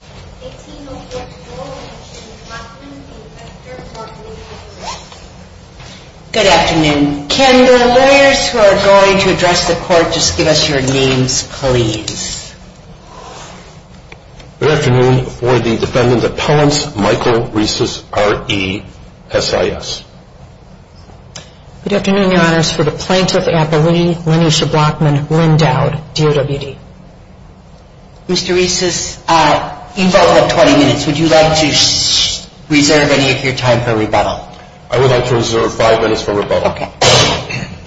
Good afternoon. Can the lawyers who are going to address the court just give us your names, please? Good afternoon. We're the Defendant Appellants, Michael Reisis, R-E-S-I-S. Good afternoon, Your Honors. For the Plaintiff Appellee, Lenisha Blockman, Lynn Dowd, D-O-W-D. Mr. Reisis, you both have 20 minutes. Would you like to reserve any of your time for rebuttal? I would like to reserve five minutes for rebuttal. Okay.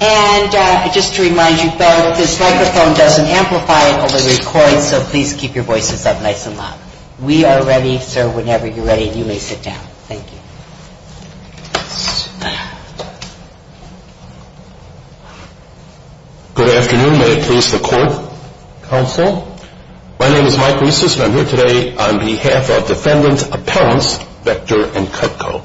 And just to remind you both, this microphone doesn't amplify, it only records, so please keep your voices up nice and loud. We are ready, sir. Whenever you're ready, you may sit down. Thank you. Good afternoon. May it please the court, counsel. My name is Mike Reisis, and I'm here today on behalf of Defendant Appellants Vector and Cutco.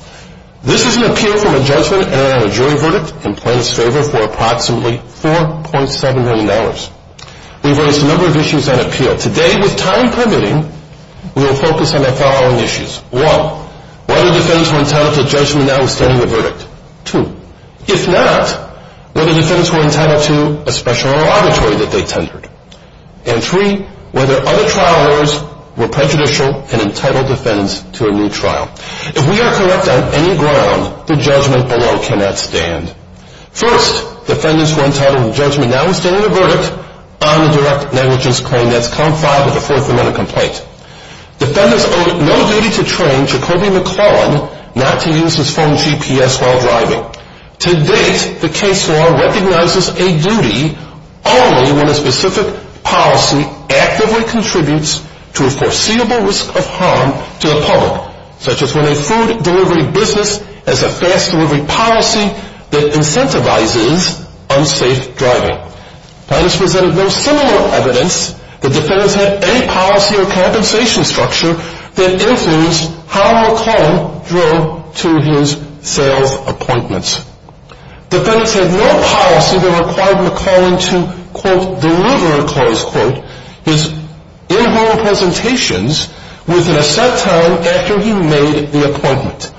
This is an appeal from a judgment and a jury verdict in plaintiff's favor for approximately $4.7 million. We've raised a number of issues on appeal. Today, with time permitting, we will focus on the following issues. One, whether defendants were entitled to a judgment now withstanding the verdict. Two, if not, whether defendants were entitled to a special oral arbitrary that they tendered. And three, whether other trial orders were prejudicial and entitled defendants to a new trial. If we are correct on any ground, the judgment alone cannot stand. First, defendants were entitled to a judgment now withstanding the verdict on the direct negligence claim. And that's count five of the Fourth Amendment complaint. Defendants owe no duty to train Jacobi McClellan not to use his phone GPS while driving. To date, the case law recognizes a duty only when a specific policy actively contributes to a foreseeable risk of harm to the public, such as when a food delivery business has a fast delivery policy that incentivizes unsafe driving. Plaintiffs presented no similar evidence that defendants had any policy or compensation structure that influenced how McClellan drove to his sales appointments. Defendants had no policy that required McClellan to, quote, deliver, close quote, his in-home presentations within a set time after he made the appointment.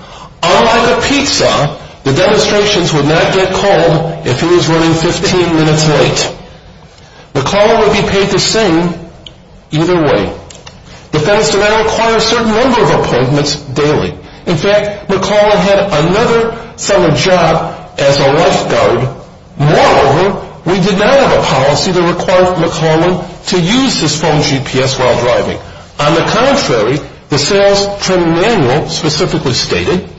Unlike a pizza, the demonstrations would not get called if he was running 15 minutes late. McClellan would be paid the same either way. Defendants did not require a certain number of appointments daily. In fact, McClellan had another summer job as a lifeguard. Moreover, we did not have a policy that required McClellan to use his phone GPS while driving. On the contrary, the sales training manual specifically stated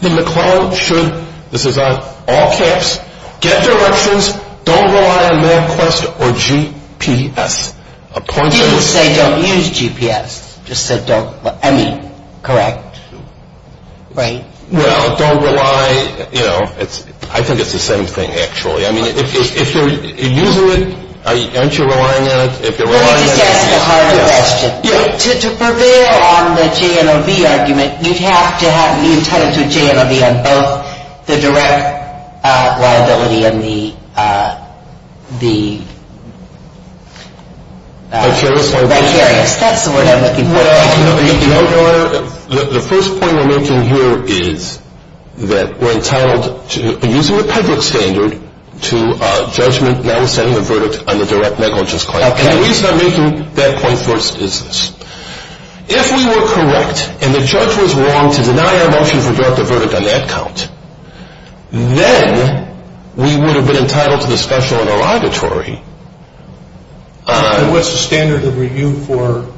that McClellan should, this is on all caps, get directions, don't rely on MapQuest or GPS. He didn't say don't use GPS, just said don't, I mean, correct, right? Well, don't rely, you know, I think it's the same thing actually. I mean, if you're using it, aren't you relying on it? Let me just ask a harder question. To prevail on the JNOV argument, you'd have to be entitled to a JNOV on both the direct liability and the vicarious. That's the word I'm looking for. Well, Your Honor, the first point we're making here is that we're entitled, using the public standard, to a judgment notwithstanding the verdict on the direct negligence claim. Okay. And the reason I'm making that point first is this. If we were correct and the judge was wrong to deny our motion for direct a verdict on that count, then we would have been entitled to the special interrogatory. What's the standard of review for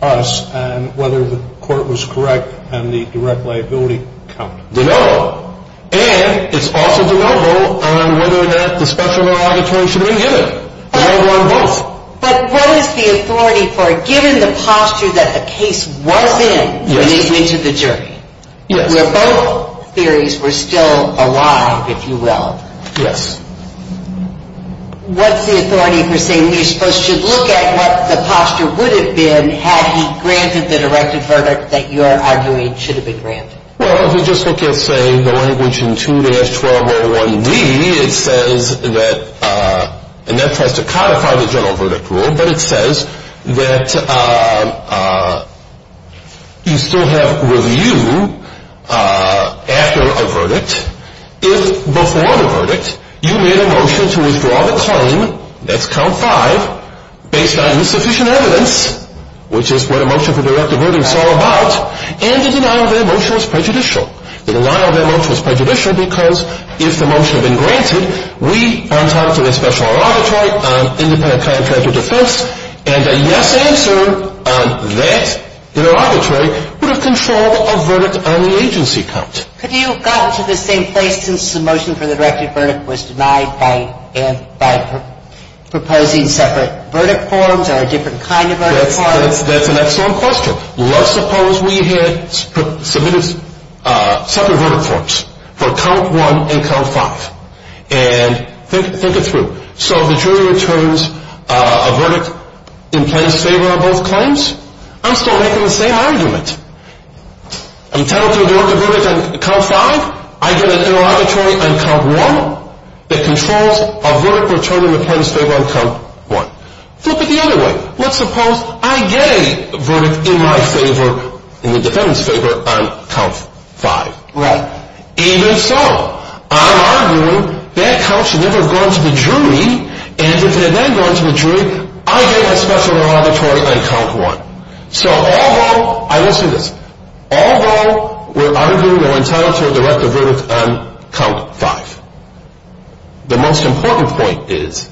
us and whether the court was correct on the direct liability count? Denial. And it's also denial on whether or not the special interrogatory should have been given. Denial on both. But what is the authority for, given the posture that the case was in when they went to the jury? Yes. Where both theories were still alive, if you will. Yes. What's the authority for saying we're supposed to look at what the posture would have been had he granted the direct a verdict that you're arguing should have been granted? Well, if you just look at, say, the language in 2-1201D, it says that, and that tries to codify the general verdict rule, but it says that you still have review after a verdict if before the verdict you made a motion to withdraw the claim, that's count five, based on insufficient evidence, which is what a motion for direct a verdict is all about, and the denial of that motion was prejudicial. The denial of that motion was prejudicial because if the motion had been granted, we, on top of the special interrogatory, on independent contractual defense, and a yes answer on that interrogatory would have controlled a verdict on the agency count. Could you have gotten to the same place since the motion for the direct a verdict was denied by proposing separate verdict forms or a different kind of verdict form? That's an excellent question. So let's suppose we had submitted separate verdict forms for count one and count five, and think it through. So the jury returns a verdict in plain favor on both claims? I'm still making the same argument. I'm entitled to a direct a verdict on count five. I get an interrogatory on count one that controls a verdict return in plain favor on count one. Flip it the other way. Let's suppose I get a verdict in my favor, in the defendant's favor, on count five. Right. Even so, I'm arguing that count should never have gone to the jury, and if it had then gone to the jury, I get a special interrogatory on count one. So although we're arguing we're entitled to a direct a verdict on count five, the most important point is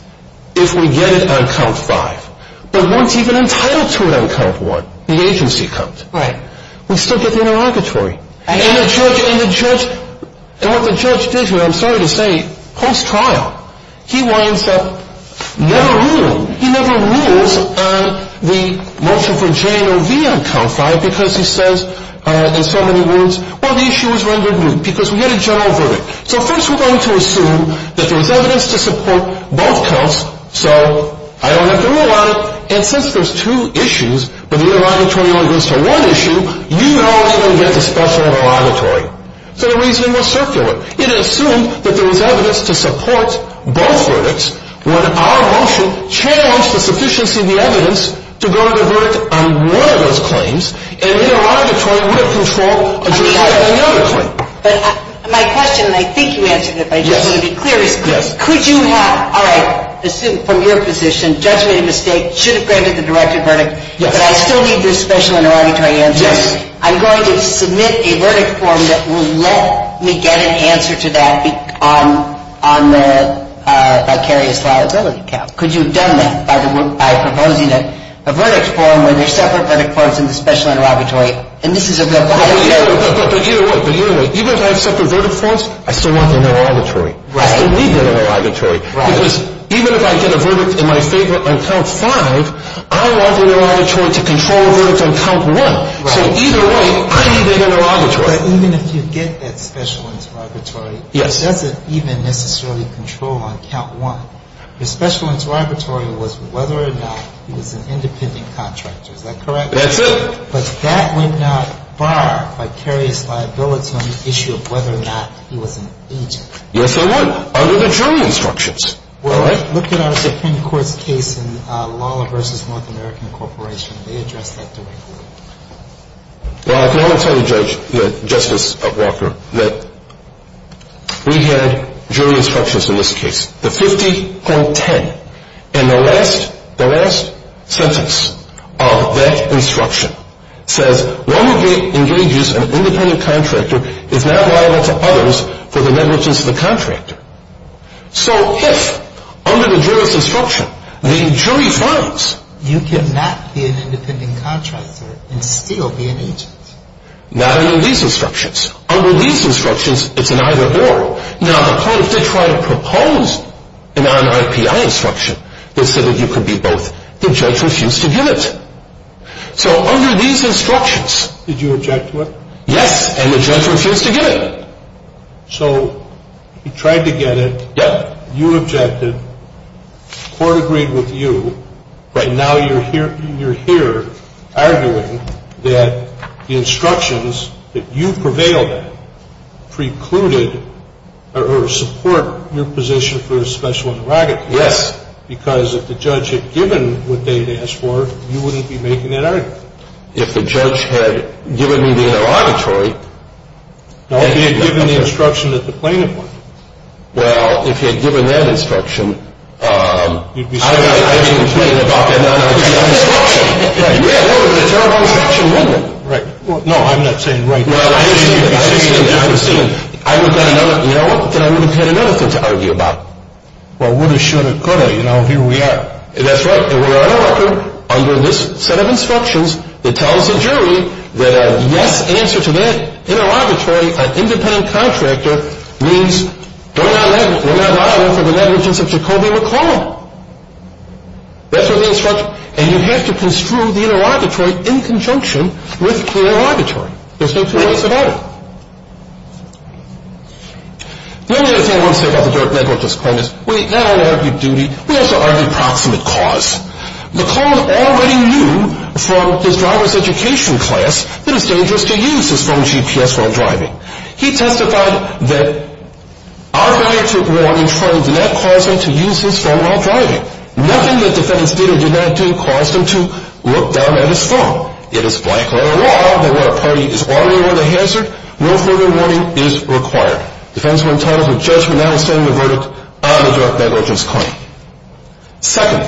if we get it on count five, but weren't even entitled to it on count one, the agency comes. Right. We still get the interrogatory. And what the judge did here, I'm sorry to say, post-trial, he winds up never ruling. He never rules on the motion for J and OV on count five because he says in so many words, well, the issue was rendered moot because we had a general verdict. So first we're going to assume that there's evidence to support both counts, so I don't have to rule on it. And since there's two issues, but the interrogatory only goes to one issue, you know it's going to get a special interrogatory. So the reasoning was circular. It assumed that there was evidence to support both verdicts when our motion changed the sufficiency of the evidence to go to the verdict on one of those claims, and the interrogatory would have control of the other claim. But my question, and I think you answered it, but I just want to be clear, is could you have, all right, from your position, judge made a mistake, should have granted the directed verdict, but I still need this special interrogatory answer. I'm going to submit a verdict form that will let me get an answer to that on the vicarious liability count. Could you have done that by proposing a verdict form where there's separate verdict forms in the special interrogatory, and this is a real violation. But you know what? Even if I have separate verdict forms, I still want the interrogatory. Right. I don't need that interrogatory. Right. Because even if I get a verdict in my favorite on count five, I want the interrogatory to control a verdict on count one. Right. So either way, I need that interrogatory. But even if you get that special interrogatory. Yes. It doesn't even necessarily control on count one. The special interrogatory was whether or not he was an independent contractor. Is that correct? That's it. But that went out bar vicarious liability on the issue of whether or not he was an agent. Yes, they were. Under the jury instructions. All right. Look at our Supreme Court's case in Lawler v. North American Corporation. They addressed that directly. Well, I can only tell you, Justice Walker, that we had jury instructions in this case. The 50.10. And the last sentence of that instruction says, One who engages an independent contractor is not liable to others for the negligence of the contractor. So if under the jury's instruction, the jury finds. You cannot be an independent contractor and still be an agent. Not under these instructions. Under these instructions, it's an either or. Now, the point, if they try to propose an non-IPI instruction, they said that you could be both. The judge refused to give it. So under these instructions. Did you object to it? Yes. And the judge refused to give it. So he tried to get it. Yep. You objected. Court agreed with you. Right. Now you're here arguing that the instructions that you prevailed at precluded or support your position for a special interrogative. Yes. Because if the judge had given what they'd asked for, you wouldn't be making that argument. If the judge had given me the interrogatory. No, if he had given the instruction that the plaintiff wanted. Well, if he had given that instruction. You'd be saying. I'd be complaining about that non-IPI instruction. Yeah, that was a terrible instruction, wasn't it? Right. No, I'm not saying right now. No, I understand. I understand. I would've got another. You know what? Then I would've had another thing to argue about. Well, woulda, shoulda, coulda. You know, here we are. That's right. And we're on a record under this set of instructions that tells the jury that a yes answer to that interrogatory, an independent contractor, means we're not liable for the negligence of Jacoby McCall. That's what the instruction. And you have to construe the interrogatory in conjunction with the interrogatory. There's no two ways about it. The only other thing I want to say about the direct negligence claim is we not only argued duty. We also argued proximate cause. McCall already knew from his driver's education class that it's dangerous to use his phone GPS while driving. He testified that our failure to warn and train did not cause him to use his phone while driving. Nothing that defendants did or did not do caused him to look down at his phone. It is black-letter law that what a party is arguing with a hazard. No further warning is required. Defendants are entitled to a judgment not asserting a verdict on the direct negligence claim. Second,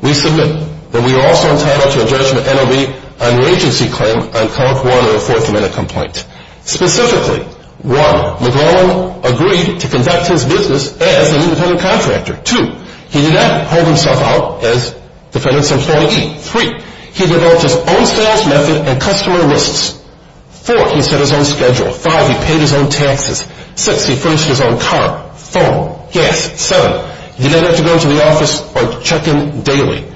we submit that we are also entitled to a judgment NOB on the agency claim on Code 1 of the Fourth Amendment complaint. Specifically, one, McCall agreed to conduct his business as an independent contractor. Two, he did not hold himself out as defendant's employee. Three, he developed his own sales method and customer lists. Four, he set his own schedule. Five, he paid his own taxes. Six, he furnished his own car, phone, gas. Seven, he did not have to go into the office or check in daily.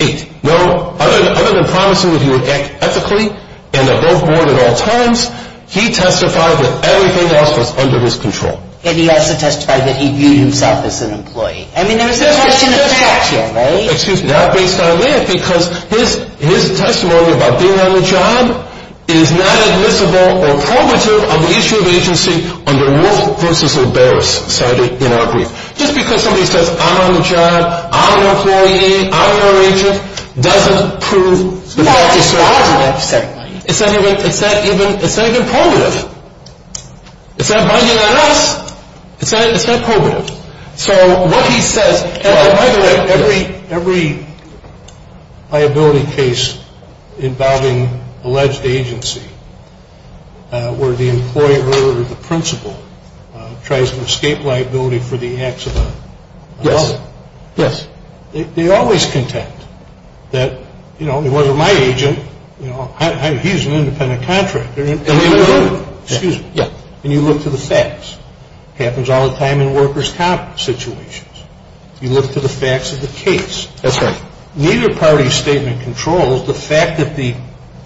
Eight, well, other than promising that he would act ethically and above board at all times, he testified that everything else was under his control. And he also testified that he viewed himself as an employee. I mean, there was a question of fact here, right? Excuse me. Not based on that because his testimony about being on the job is not admissible or probative on the issue of agency under Wolf v. O'Barris cited in our brief. Just because somebody says, I'm on the job, I'm an employee, I'm an agent, doesn't prove the fact is so obvious. It's not even probative. It's not binding on us. It's not probative. So what he says, and by the way, every liability case involving alleged agency where the employer or the principal tries to escape liability for the acts of another. Yes, yes. They always contend that, you know, it wasn't my agent, you know, he's an independent contractor. Excuse me. Yeah. And you look to the facts. Happens all the time in workers' comp situations. You look to the facts of the case. That's right. Neither party's statement controls the fact that the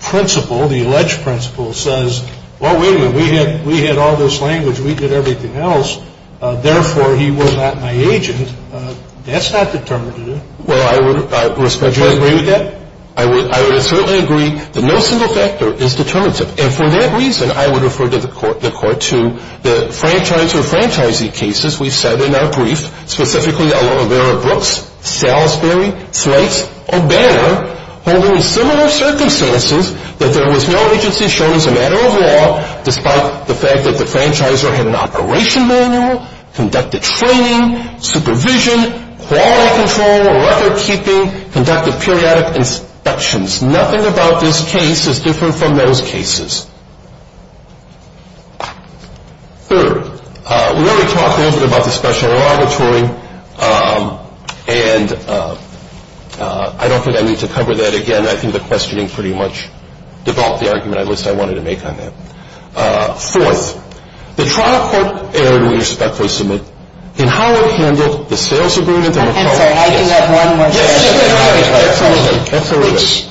principal, the alleged principal, says, well, wait a minute, we had all this language, we did everything else, therefore, he was not my agent. That's not determinative. Well, I would respectfully agree with that. I would certainly agree that no single factor is determinative. And for that reason, I would refer the court to the franchiser-franchisee cases we've said in our brief, specifically Oliveira Brooks, Salisbury, Slates, or Banner, holding similar circumstances that there was no agency shown as a matter of law, despite the fact that the franchiser had an operation manual, conducted training, supervision, quality control, record-keeping, conducted periodic inspections. Nothing about this case is different from those cases. Third, we already talked a little bit about the special laboratory, and I don't think I need to cover that again. I think the questioning pretty much developed the argument I wanted to make on that. Fourth, the trial court erred, we respectfully submit, in how it handled the sales agreement. I'm sorry, I do have one more question.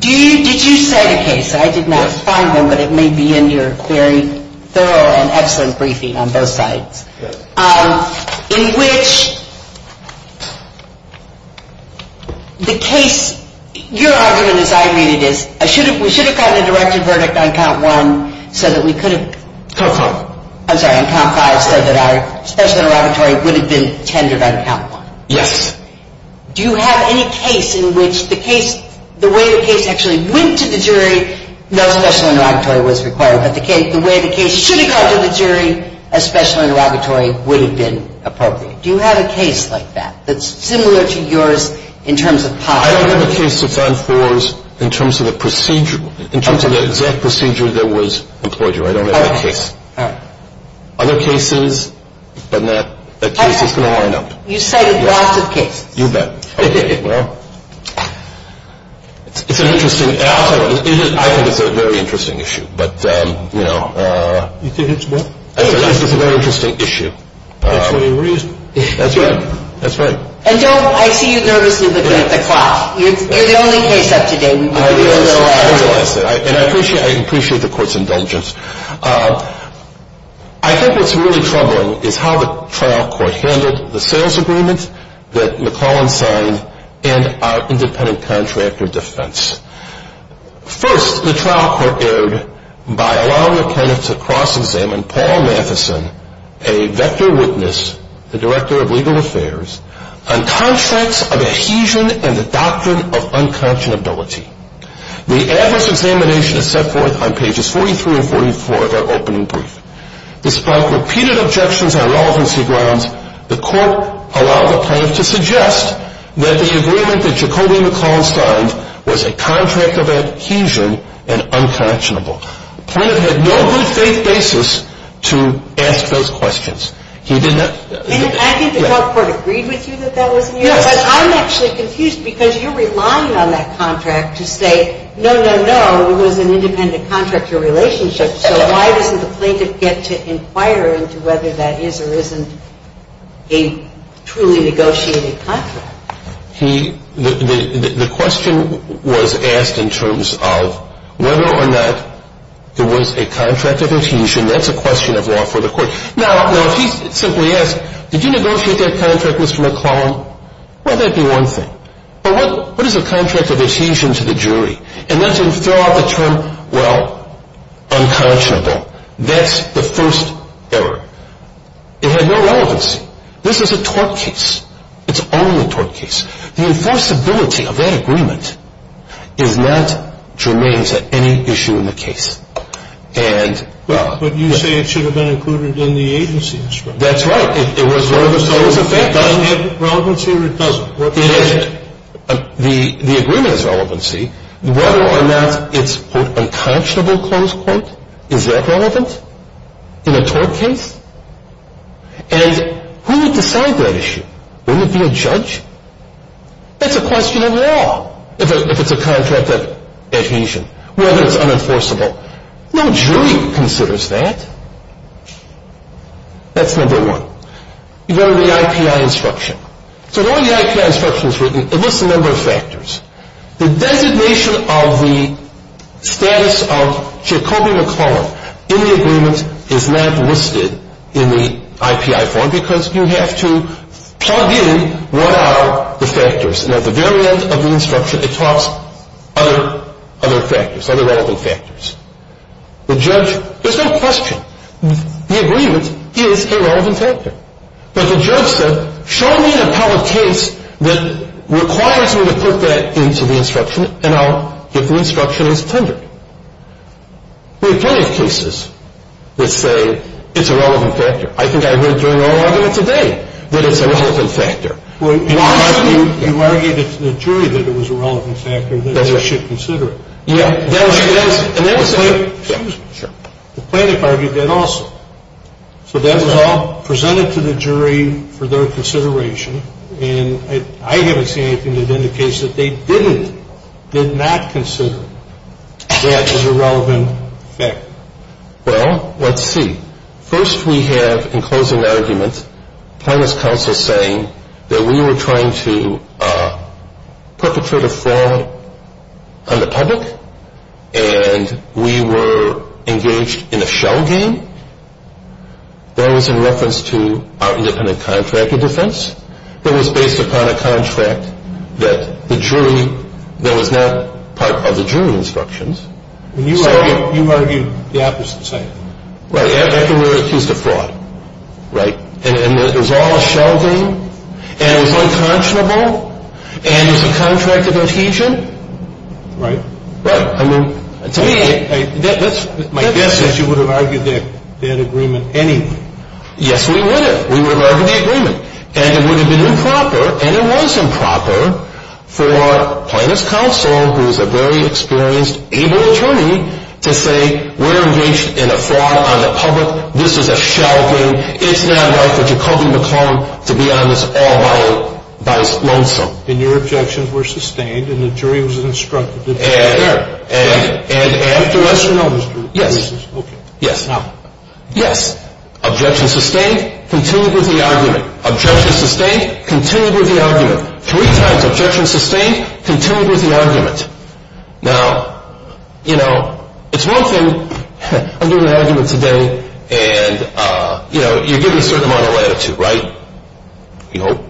Did you cite a case, I did not find one, but it may be in your very thorough and excellent briefing on both sides, in which the case, your argument as I read it is, we should have gotten a directed verdict on count one, so that we could have. I'm sorry, on count five, so that our special laboratory would have been tendered on count one. Yes. Do you have any case in which the case, the way the case actually went to the jury, no special interrogatory was required, but the way the case should have gone to the jury, a special interrogatory would have been appropriate. Do you have a case like that, that's similar to yours in terms of possible. I don't have a case that's on fours in terms of the procedure, in terms of the exact procedure that was employed. I don't have that case. Other cases, but that case is going to wind up. You cited lots of cases. You bet. Okay, well, it's an interesting, I think it's a very interesting issue, but you know. You think it's what? I think it's a very interesting issue. That's the reason. That's right, that's right. And don't, I see you nervously looking at the clock. You're the only case up to date. I realize that, and I appreciate the court's indulgence. I think what's really troubling is how the trial court handled the sales agreement that McClellan signed and our independent contractor defense. First, the trial court erred by allowing the plaintiff to cross-examine Paul Matheson, a vector witness, the Director of Legal Affairs, on contracts of adhesion and the doctrine of unconscionability. The adverse examination is set forth on pages 43 and 44 of our opening brief. Despite repeated objections on relevancy grounds, the court allowed the plaintiff to suggest that the agreement that Jacobi McClellan signed was a contract of adhesion and unconscionable. The plaintiff had no good faith basis to ask those questions. He did not. And I think the trial court agreed with you that that was an error, but I'm actually confused because you're relying on that contract to say, no, no, no, it was an independent contractor relationship, so why doesn't the plaintiff get to inquire into whether that is or isn't a truly negotiated contract? The question was asked in terms of whether or not there was a contract of adhesion. That's a question of law for the court. Now, if he simply asked, did you negotiate that contract, Mr. McClellan, well, that would be one thing. But what is a contract of adhesion to the jury? And then to throw out the term, well, unconscionable, that's the first error. It had no relevancy. This is a tort case. It's only a tort case. The enforceability of that agreement is not germane to any issue in the case. But you say it should have been included in the agency. That's right. So it doesn't have relevancy or it doesn't? It isn't. The agreement has relevancy. Whether or not it's, quote, unconscionable, close quote, is that relevant in a tort case? And who would decide that issue? Would it be a judge? That's a question of law if it's a contract of adhesion, whether it's unenforceable. No jury considers that. That's number one. You go to the IPI instruction. So in all the IPI instructions written, it lists a number of factors. The designation of the status of Jacobi-McClellan in the agreement is not listed in the IPI form because you have to plug in what are the factors. And at the very end of the instruction, it talks other factors, other relevant factors. The judge, there's no question, the agreement is a relevant factor. But the judge said, show me the part of the case that requires me to put that into the instruction and I'll get the instruction as tendered. There are plenty of cases that say it's a relevant factor. I think I heard during oral argument today that it's a relevant factor. Well, you argued to the jury that it was a relevant factor, that they should consider it. Yeah. And then the plaintiff argued that also. So that was all presented to the jury for their consideration. And I haven't seen anything that indicates that they didn't, did not consider that as a relevant factor. Well, let's see. First we have in closing argument, plaintiff's counsel saying that we were trying to perpetrate a fraud on the public and we were engaged in a shell game. That was in reference to our independent contractor defense. That was based upon a contract that the jury, that was not part of the jury instructions. And you argued the opposite side. Right. After we were accused of fraud. Right. And it was all a shell game and it was unconscionable and it was a contract of adhesion. Right. Right. I mean, to me that's... My guess is you would have argued that agreement anyway. Yes, we would have. We would have argued the agreement. And it would have been improper and it was improper for plaintiff's counsel, who is a very experienced, able attorney, to say, we're engaged in a fraud on the public, this is a shell game, it's not right for Jacobi McClellan to be on this all by his lonesome. And your objections were sustained and the jury was instructed to be fair. And, and, and, and... To us or not to us? Yes. Okay. Yes. Objection sustained, continued with the argument. Objection sustained, continued with the argument. Three times objection sustained, continued with the argument. Now, you know, it's one thing, I'm doing an argument today, and, you know, you're giving a certain amount of latitude, right? We hope.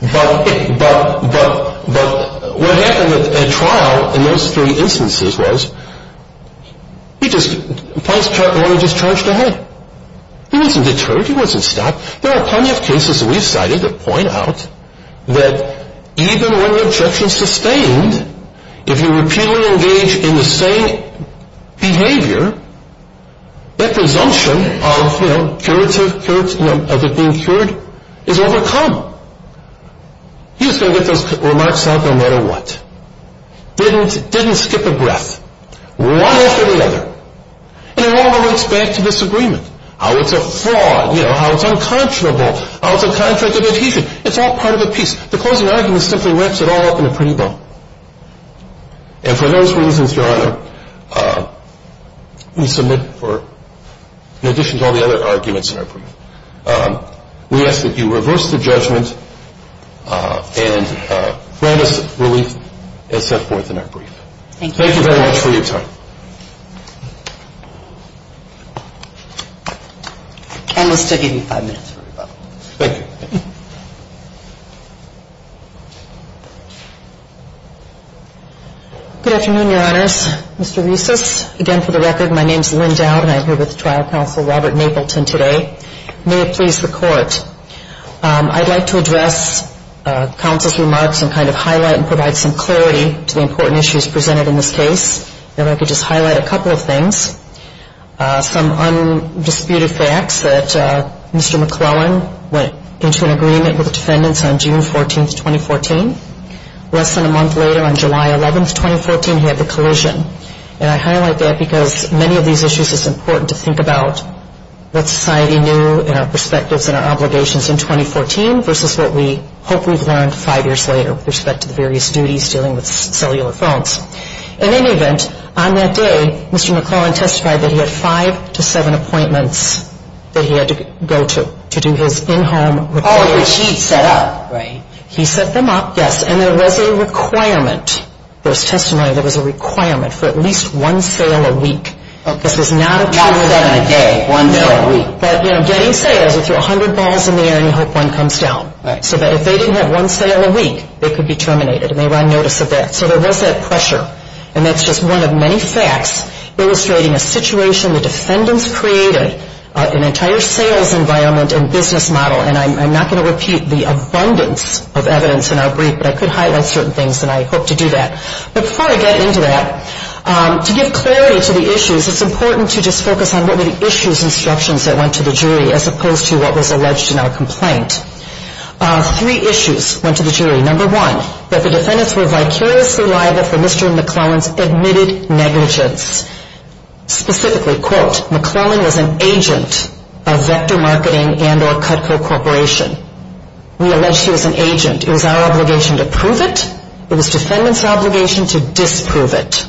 But, but, but, but what happened at trial in those three instances was he just, the plaintiff's attorney just charged ahead. He wasn't deterred. He wasn't stopped. There are plenty of cases that we've cited that point out that even when the objection's sustained, if you repeatedly engage in the same behavior, that presumption of, you know, curative, curative, you know, of it being cured is overcome. He was going to get those remarks out no matter what. Didn't, didn't skip a breath. One after the other. And it all relates back to this agreement, how it's a fraud, you know, how it's unconscionable, how it's a contract of adhesion. It's all part of a piece. The closing argument simply wraps it all up in a pretty bow. And for those reasons, Your Honor, we submit for, in addition to all the other arguments in our brief, we ask that you reverse the judgment and grant us relief as set forth in our brief. Thank you. Thank you very much for your time. And we'll still give you five minutes for rebuttal. Thank you. Good afternoon, Your Honors. Mr. Reusses, again, for the record, my name's Lynn Dowd, and I'm here with Trial Counsel Robert Mapleton today. May it please the Court, I'd like to address counsel's remarks and kind of highlight and provide some clarity to the important issues presented in this case. And if I could just highlight a couple of things. Some undisputed facts that Mr. McClellan went into an agreement with defendants on June 14th, 2014. Less than a month later, on July 11th, 2014, he had the collision. And I highlight that because many of these issues, it's important to think about what society knew and our perspectives and our obligations in 2014 versus what we hope we've learned five years later with respect to the various duties dealing with cellular phones. In any event, on that day, Mr. McClellan testified that he had five to seven appointments that he had to go to to do his in-home repair. Oh, which he set up, right? He set them up, yes. And there was a requirement. There was testimony that there was a requirement for at least one sale a week. This was not a two-a-day, one day a week. But, you know, getting sales would throw a hundred balls in the air and you hope one comes down. So that if they didn't have one sale a week, they could be terminated and they were on notice of that. So there was that pressure. And that's just one of many facts illustrating a situation the defendants created, an entire sales environment and business model. And I'm not going to repeat the abundance of evidence in our brief, but I could highlight certain things, and I hope to do that. But before I get into that, to give clarity to the issues, it's important to just focus on what were the issues, as opposed to what was alleged in our complaint. Three issues went to the jury. Number one, that the defendants were vicariously liable for Mr. McClellan's admitted negligence. Specifically, quote, McClellan was an agent of Vector Marketing and or Cutco Corporation. We alleged he was an agent. It was our obligation to prove it. It was defendants' obligation to disprove it.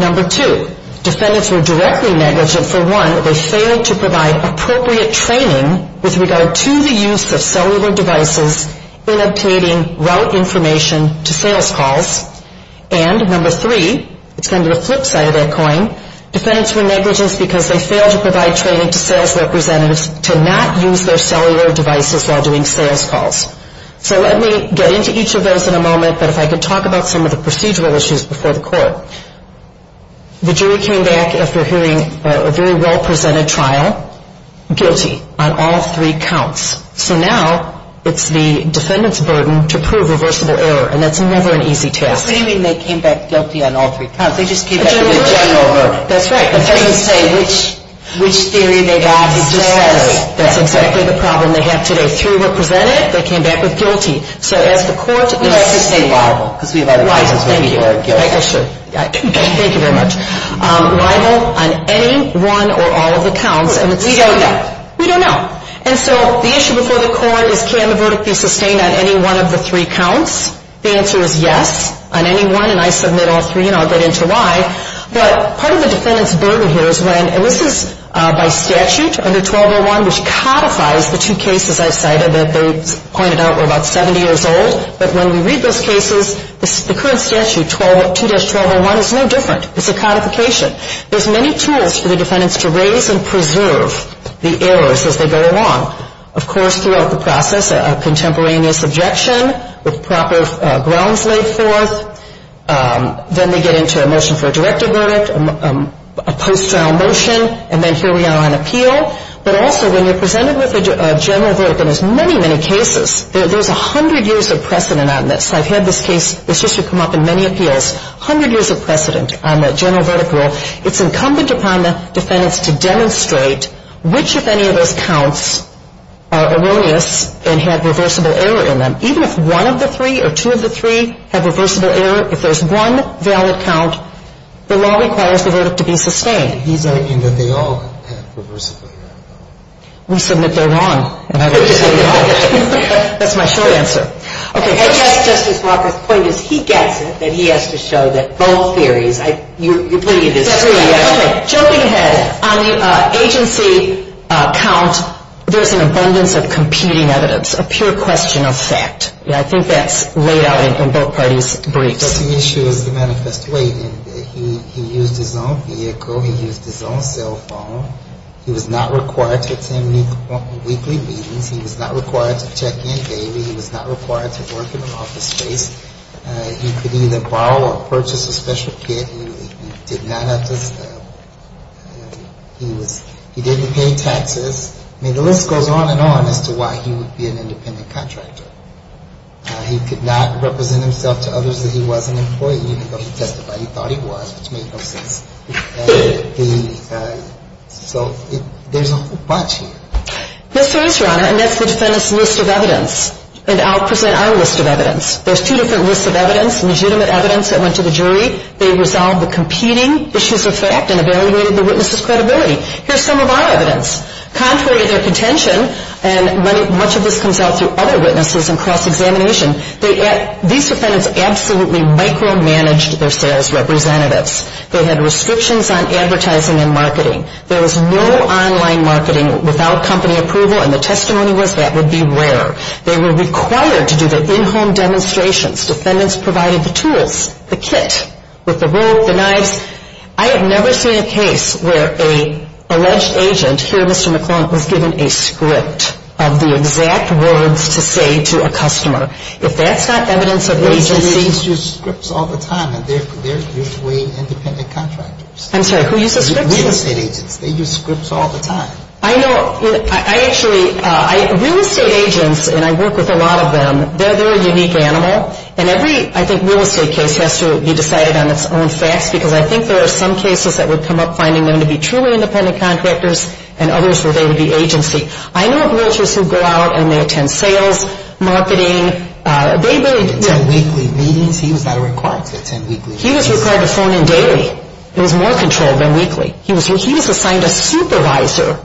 Number two, defendants were directly negligent. For one, they failed to provide appropriate training with regard to the use of cellular devices in obtaining route information to sales calls. And number three, it's going to the flip side of that coin, defendants were negligent because they failed to provide training to sales representatives to not use their cellular devices while doing sales calls. So let me get into each of those in a moment, but if I could talk about some of the procedural issues before the court. The jury came back after hearing a very well-presented trial guilty on all three counts. So now it's the defendant's burden to prove reversible error, and that's never an easy task. What do you mean they came back guilty on all three counts? They just came back with a general burden. That's right. It doesn't say which theory they got. It just says. That's exactly the problem they have today. Three were presented. They came back with guilty. So as the court was saying. Thank you. Thank you very much. Rival on any, one, or all of the counts. We don't know. We don't know. And so the issue before the court is can the verdict be sustained on any one of the three counts? The answer is yes on any one, and I submit all three, and I'll get into why. But part of the defendant's burden here is when, and this is by statute under 1201, which codifies the two cases I've cited that they pointed out were about 70 years old. But when we read those cases, the current statute, 2-1201, is no different. It's a codification. There's many tools for the defendants to raise and preserve the errors as they go along. Of course, throughout the process, a contemporaneous objection with proper grounds laid forth. Then they get into a motion for a directive verdict, a post-trial motion, and then here we are on appeal. But also, when you're presented with a general verdict, and there's many, many cases, there's 100 years of precedent on this. I've had this case, this history come up in many appeals, 100 years of precedent on the general verdict rule. It's incumbent upon the defendants to demonstrate which, if any, of those counts are erroneous and have reversible error in them. Even if one of the three or two of the three have reversible error, if there's one valid count, the law requires the verdict to be sustained. These are in that they all have reversible error. We submit they're wrong. That's my short answer. Okay. Justice Walker's point is he gets it, but he has to show that both theories. You're bringing this up. Jumping ahead, on the agency count, there's an abundance of competing evidence, a pure question of fact. I think that's laid out in both parties' briefs. But the issue is the manifest way. And he used his own vehicle. He used his own cell phone. He was not required to attend weekly meetings. He was not required to check in daily. He was not required to work in an office space. He could either borrow or purchase a special kit. He did not have to, he was, he didn't pay taxes. I mean, the list goes on and on as to why he would be an independent contractor. He could not represent himself to others that he was an employee, even though he testified he thought he was, which made no sense. So there's a whole bunch here. Yes, there is, Your Honor, and that's the defendant's list of evidence. And I'll present our list of evidence. There's two different lists of evidence, legitimate evidence that went to the jury. They resolved the competing issues of fact and evaluated the witness's credibility. Here's some of our evidence. Contrary to their contention, and much of this comes out through other witnesses and cross-examination, these defendants absolutely micromanaged their sales representatives. They had restrictions on advertising and marketing. There was no online marketing without company approval, and the testimony was that would be rare. They were required to do the in-home demonstrations. Defendants provided the tools, the kit, with the rope, the knives. I have never seen a case where an alleged agent, here, Mr. McClellan, was given a script of the exact words to say to a customer. If that's not evidence of agency ---- Real estate agents use scripts all the time, and they're usually independent contractors. I'm sorry. Who uses scripts? Real estate agents. They use scripts all the time. I know. I actually ---- real estate agents, and I work with a lot of them, they're a unique animal. And every, I think, real estate case has to be decided on its own facts, because I think there are some cases that would come up finding them to be truly independent contractors, and others where they would be agency. I know of realtors who go out and they attend sales, marketing. They really ---- Attend weekly meetings? He was not required to attend weekly meetings. He was required to phone in daily. It was more controlled than weekly. He was assigned a supervisor.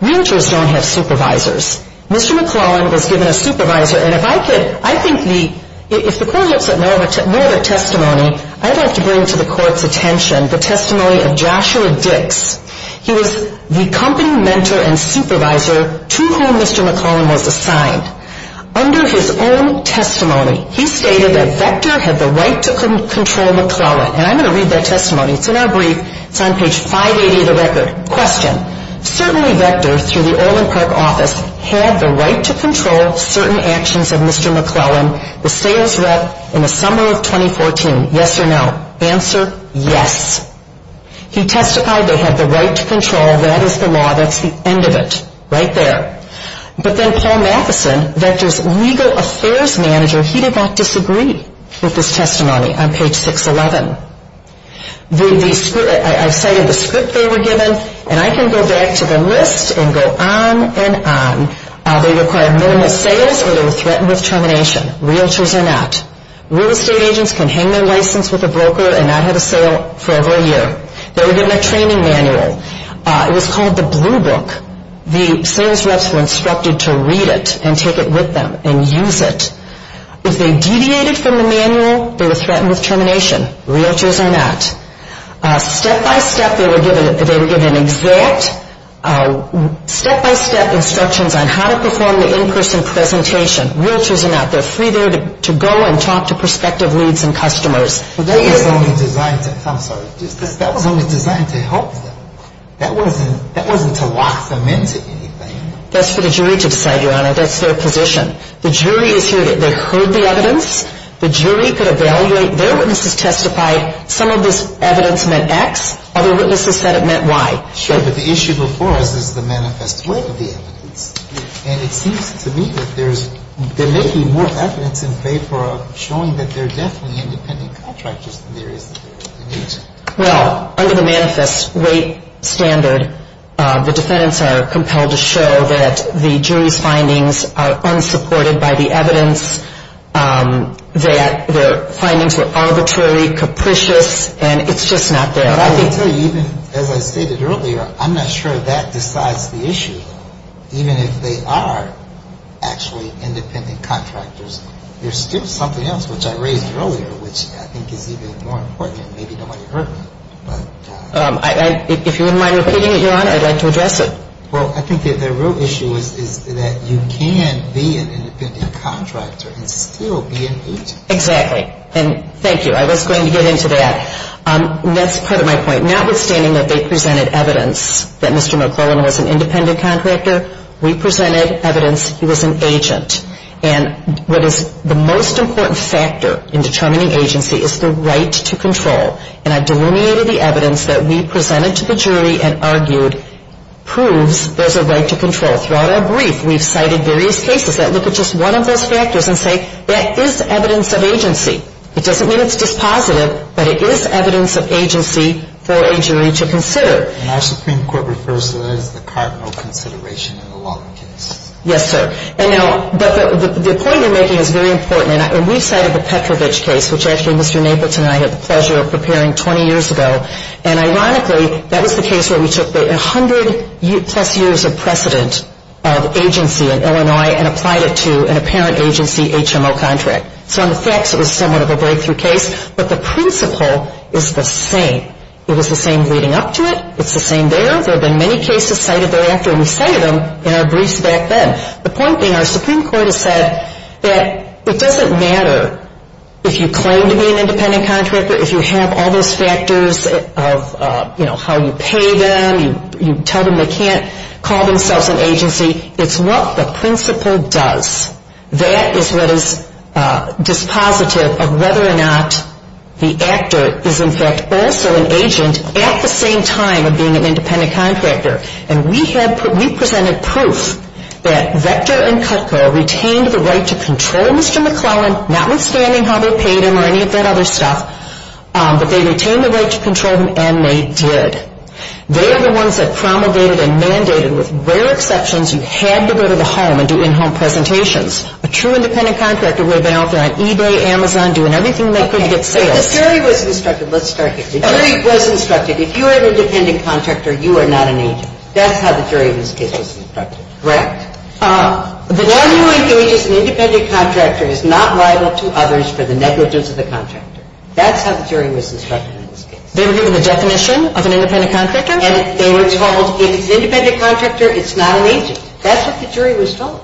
Realtors don't have supervisors. Mr. McClellan was given a supervisor. And if I could, I think the, if the Court looks at more of a testimony, I'd like to bring to the Court's attention the testimony of Joshua Dix. He was the company mentor and supervisor to whom Mr. McClellan was assigned. Under his own testimony, he stated that Vector had the right to control McClellan. And I'm going to read that testimony. It's in our brief. It's on page 580 of the record. Question. Certainly Vector, through the Olin Park office, had the right to control certain actions of Mr. McClellan, the sales rep, in the summer of 2014. Yes or no? Answer, yes. He testified they had the right to control. That is the law. That's the end of it. Right there. But then Paul Matheson, Vector's legal affairs manager, he did not disagree with his testimony on page 611. I've cited the script they were given. And I can go back to the list and go on and on. They required minimal sales or they were threatened with termination, realtors or not. Real estate agents can hang their license with a broker and not have a sale for over a year. They were given a training manual. It was called the Blue Book. The sales reps were instructed to read it and take it with them and use it. If they deviated from the manual, they were threatened with termination, realtors or not. Step by step, they were given exact step-by-step instructions on how to perform the in-person presentation. Realtors or not. They're free there to go and talk to prospective leads and customers. That was only designed to help them. That wasn't to lock them into anything. That's for the jury to decide, Your Honor. That's their position. The jury is here. They heard the evidence. The jury could evaluate. Their witnesses testified. Some of this evidence meant X. Other witnesses said it meant Y. Sure, but the issue before us is the manifest weight of the evidence. And it seems to me that there may be more evidence in favor of showing that there are definitely independent contractors than there is. Well, under the manifest weight standard, the defendants are compelled to show that the jury's findings are unsupported by the evidence, that the findings were arbitrarily capricious, and it's just not there. I can tell you, even as I stated earlier, I'm not sure that decides the issue. Even if they are actually independent contractors, there's still something else, which I raised earlier, which I think is even more important, and maybe nobody heard me. If you wouldn't mind repeating it, Your Honor, I'd like to address it. Well, I think the real issue is that you can be an independent contractor and still be an agent. Exactly. And thank you. I was going to get into that. That's part of my point. Notwithstanding that they presented evidence that Mr. McClellan was an independent contractor, we presented evidence he was an agent. And what is the most important factor in determining agency is the right to control. And I've delineated the evidence that we presented to the jury and argued proves there's a right to control. Throughout our brief, we've cited various cases that look at just one of those factors and say that is evidence of agency. It doesn't mean it's dispositive, but it is evidence of agency for a jury to consider. And our Supreme Court refers to that as the cardinal consideration in a lot of cases. Yes, sir. And now the point you're making is very important. And we cited the Petrovich case, which actually Mr. Napleton and I had the pleasure of preparing 20 years ago. And ironically, that was the case where we took the 100-plus years of precedent of agency in Illinois and applied it to an apparent agency HMO contract. So in effect, it was somewhat of a breakthrough case. But the principle is the same. It was the same leading up to it. It's the same there. There have been many cases cited thereafter, and we cited them in our briefs back then. The point being our Supreme Court has said that it doesn't matter if you claim to be an independent contractor, if you have all those factors of, you know, how you pay them, you tell them they can't call themselves an agency. It's what the principle does. That is what is dispositive of whether or not the actor is, in fact, also an agent at the same time of being an independent contractor. And we presented proof that Vector and Cutco retained the right to control Mr. McClellan, notwithstanding how they paid him or any of that other stuff, but they retained the right to control him, and they did. They are the ones that promulgated and mandated, with rare exceptions, you had to go to the home and do in-home presentations. A true independent contractor would have been out there on eBay, Amazon, doing everything they could to get sales. Okay. But the jury was instructed. Let's start again. The jury was instructed. If you were independent contractor, you are not an agent. That's how the jury in this case was instructed, correct? One who engages an independent contractor is not liable to others for the negligence of a contractor. That's how the jury was instructed in this case. They were given a definition of an independent contractor? And they were told if it's an independent contractor, it's not an agent. That's what the jury was told.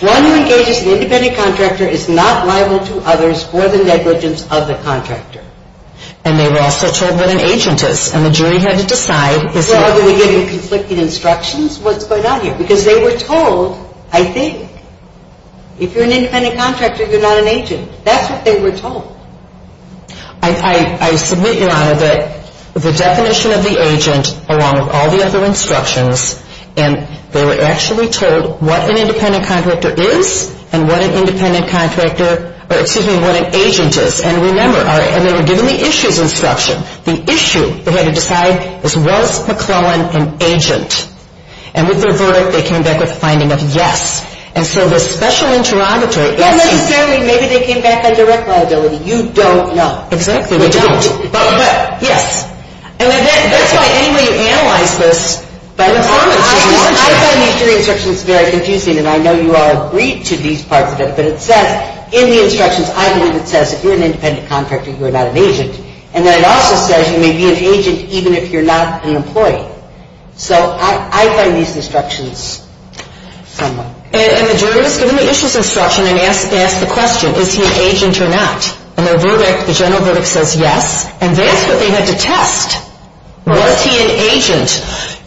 One who engages an independent contractor is not liable to others for the negligence of the contractor. And they were also told what an agent is. And the jury had to decide. Well, are we giving conflicting instructions? What's going on here? Because they were told, I think, if you're an independent contractor, you're not an agent. That's what they were told. I submit, Your Honor, that the definition of the agent, along with all the other instructions, and they were actually told what an independent contractor is and what an agent is. And remember, and they were given the issues instruction. The issue they had to decide was, was McClellan an agent? And with their verdict, they came back with the finding of yes. And so the special interrogatory essay. Well, maybe they came back on direct liability. You don't know. Exactly. We don't. But yes. And that's why anyway you analyze this by the form of jury instructions. I find these jury instructions very confusing. And I know you all agreed to these parts of it. But it says in the instructions, I believe it says if you're an independent contractor, you're not an agent. And then it also says you may be an agent even if you're not an employee. So I find these instructions somewhat confusing. And the jury was given the issues instruction and asked the question, is he an agent or not? And their verdict, the general verdict says yes. And that's what they had to test. Was he an agent?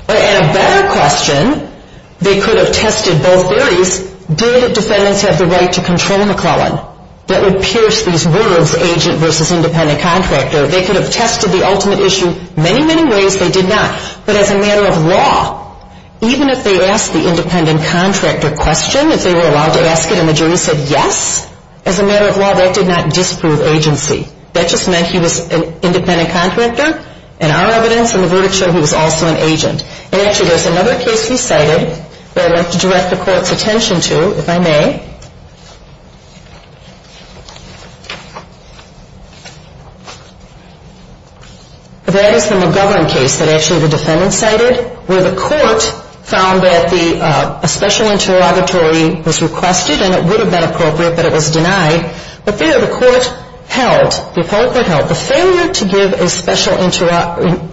And a better question, they could have tested both theories. Did defendants have the right to control McClellan? That would pierce these words, agent versus independent contractor. They could have tested the ultimate issue many, many ways. They did not. But as a matter of law, even if they asked the independent contractor question, if they were allowed to ask it and the jury said yes, as a matter of law, that did not disprove agency. That just meant he was an independent contractor. And our evidence in the verdict showed he was also an agent. And actually, there's another case we cited that I'd like to direct the court's attention to, if I may. That is the McGovern case that actually the defendant cited, where the court found that a special interrogatory was requested and it would have been appropriate, but it was denied. But the court held, the appellate court held, the failure to give a special interrogatory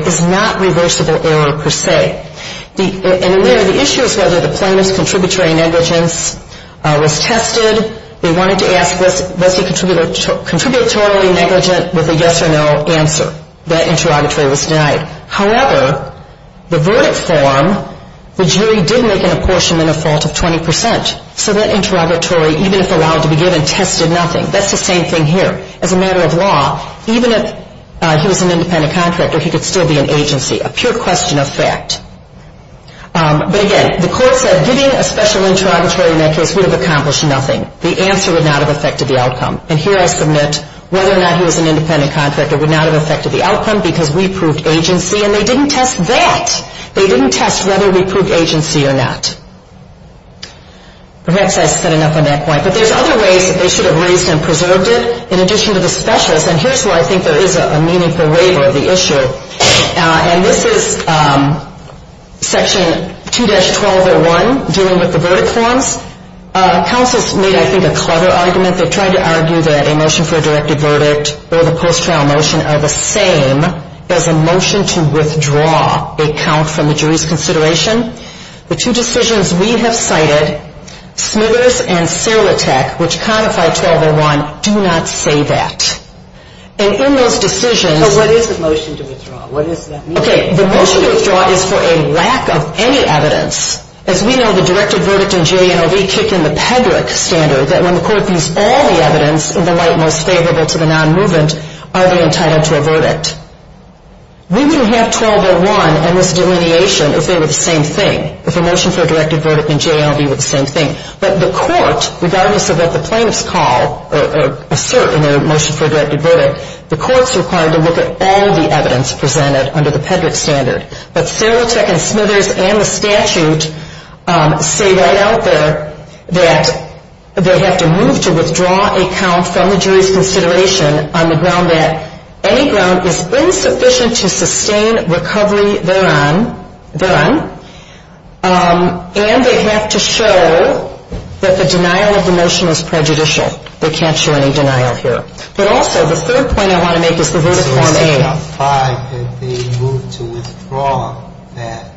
is not reversible error per se. And in there, the issue is whether the plaintiff's contributory negligence was tested. They wanted to ask was he contributory negligent with a yes or no answer. That interrogatory was denied. However, the verdict form, the jury did make an apportionment of fault of 20%. So that interrogatory, even if allowed to be given, tested nothing. That's the same thing here. As a matter of law, even if he was an independent contractor, he could still be an agency. A pure question of fact. But again, the court said giving a special interrogatory in that case would have accomplished nothing. The answer would not have affected the outcome. And here I submit whether or not he was an independent contractor would not have affected the outcome because we proved agency, and they didn't test that. They didn't test whether we proved agency or not. Perhaps I said enough on that point. But there's other ways that they should have raised and preserved it in addition to the specialists. And here's where I think there is a meaningful waiver of the issue. And this is Section 2-1201 dealing with the verdict forms. Counselors made, I think, a clever argument. They tried to argue that a motion for a directed verdict or the post-trial motion are the same as a motion to withdraw a count from the jury's consideration. The two decisions we have cited, Smithers and Silatech, which codify 1201, do not say that. And in those decisions. So what is the motion to withdraw? What does that mean? Okay. The motion to withdraw is for a lack of any evidence. As we know, the directed verdict in JANOV kicked in the Pedrick standard that when the court views all the evidence in the light most favorable to the non-movement, are they entitled to a verdict? We wouldn't have 1201 and this delineation if they were the same thing, if a motion for a directed verdict in JANOV were the same thing. But the court, regardless of what the plaintiffs call or assert in their motion for a directed verdict, the court is required to look at all the evidence presented under the Pedrick standard. But Silatech and Smithers and the statute say right out there that they have to move to withdraw a count from the jury's consideration on the ground that any ground is insufficient to sustain recovery thereon. And they have to show that the denial of the motion is prejudicial. They can't show any denial here. But also, the third point I want to make is the verdict form A. So if they move to withdraw that,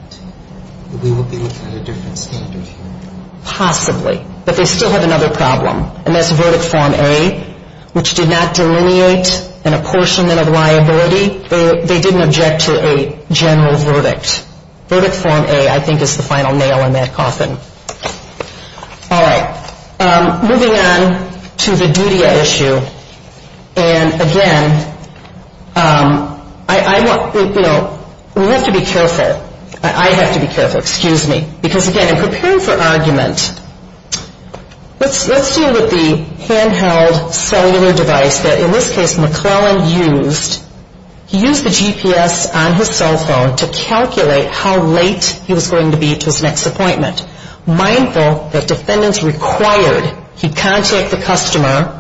we would be looking at a different standard here? Possibly. But they still have another problem. And that's verdict form A, which did not delineate an apportionment of liability. They didn't object to a general verdict. Verdict form A, I think, is the final nail in that coffin. All right. Moving on to the DUTIA issue. And, again, I want, you know, we have to be careful. I have to be careful. Excuse me. Because, again, in preparing for argument, let's deal with the handheld cellular device that, in this case, McClellan used. He used the GPS on his cell phone to calculate how late he was going to be to his next appointment, mindful that defendants required he contact the customer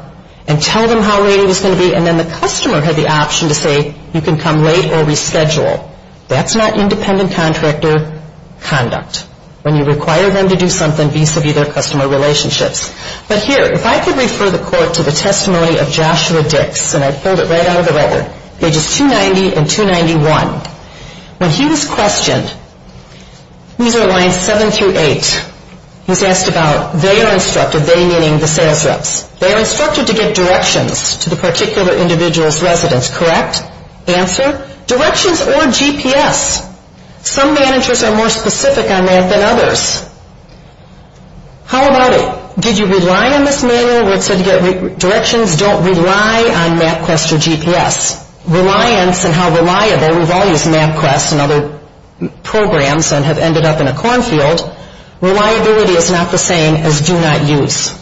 and tell them how late he was going to be, and then the customer had the option to say, you can come late or reschedule. That's not independent contractor conduct when you require them to do something vis-a-vis their customer relationships. But here, if I could refer the court to the testimony of Joshua Dix, and I pulled it right out of the letter, pages 290 and 291. When he was questioned, these are lines 7 through 8, he was asked about they are instructed, they meaning the sales reps. They are instructed to give directions to the particular individual's residence, correct? Answer? Directions or GPS. Some managers are more specific on that than others. How about it? Did you rely on this manual where it said directions don't rely on MapQuest or GPS? Reliance and how reliable, we've all used MapQuest and other programs and have ended up in a cornfield. Reliability is not the same as do not use.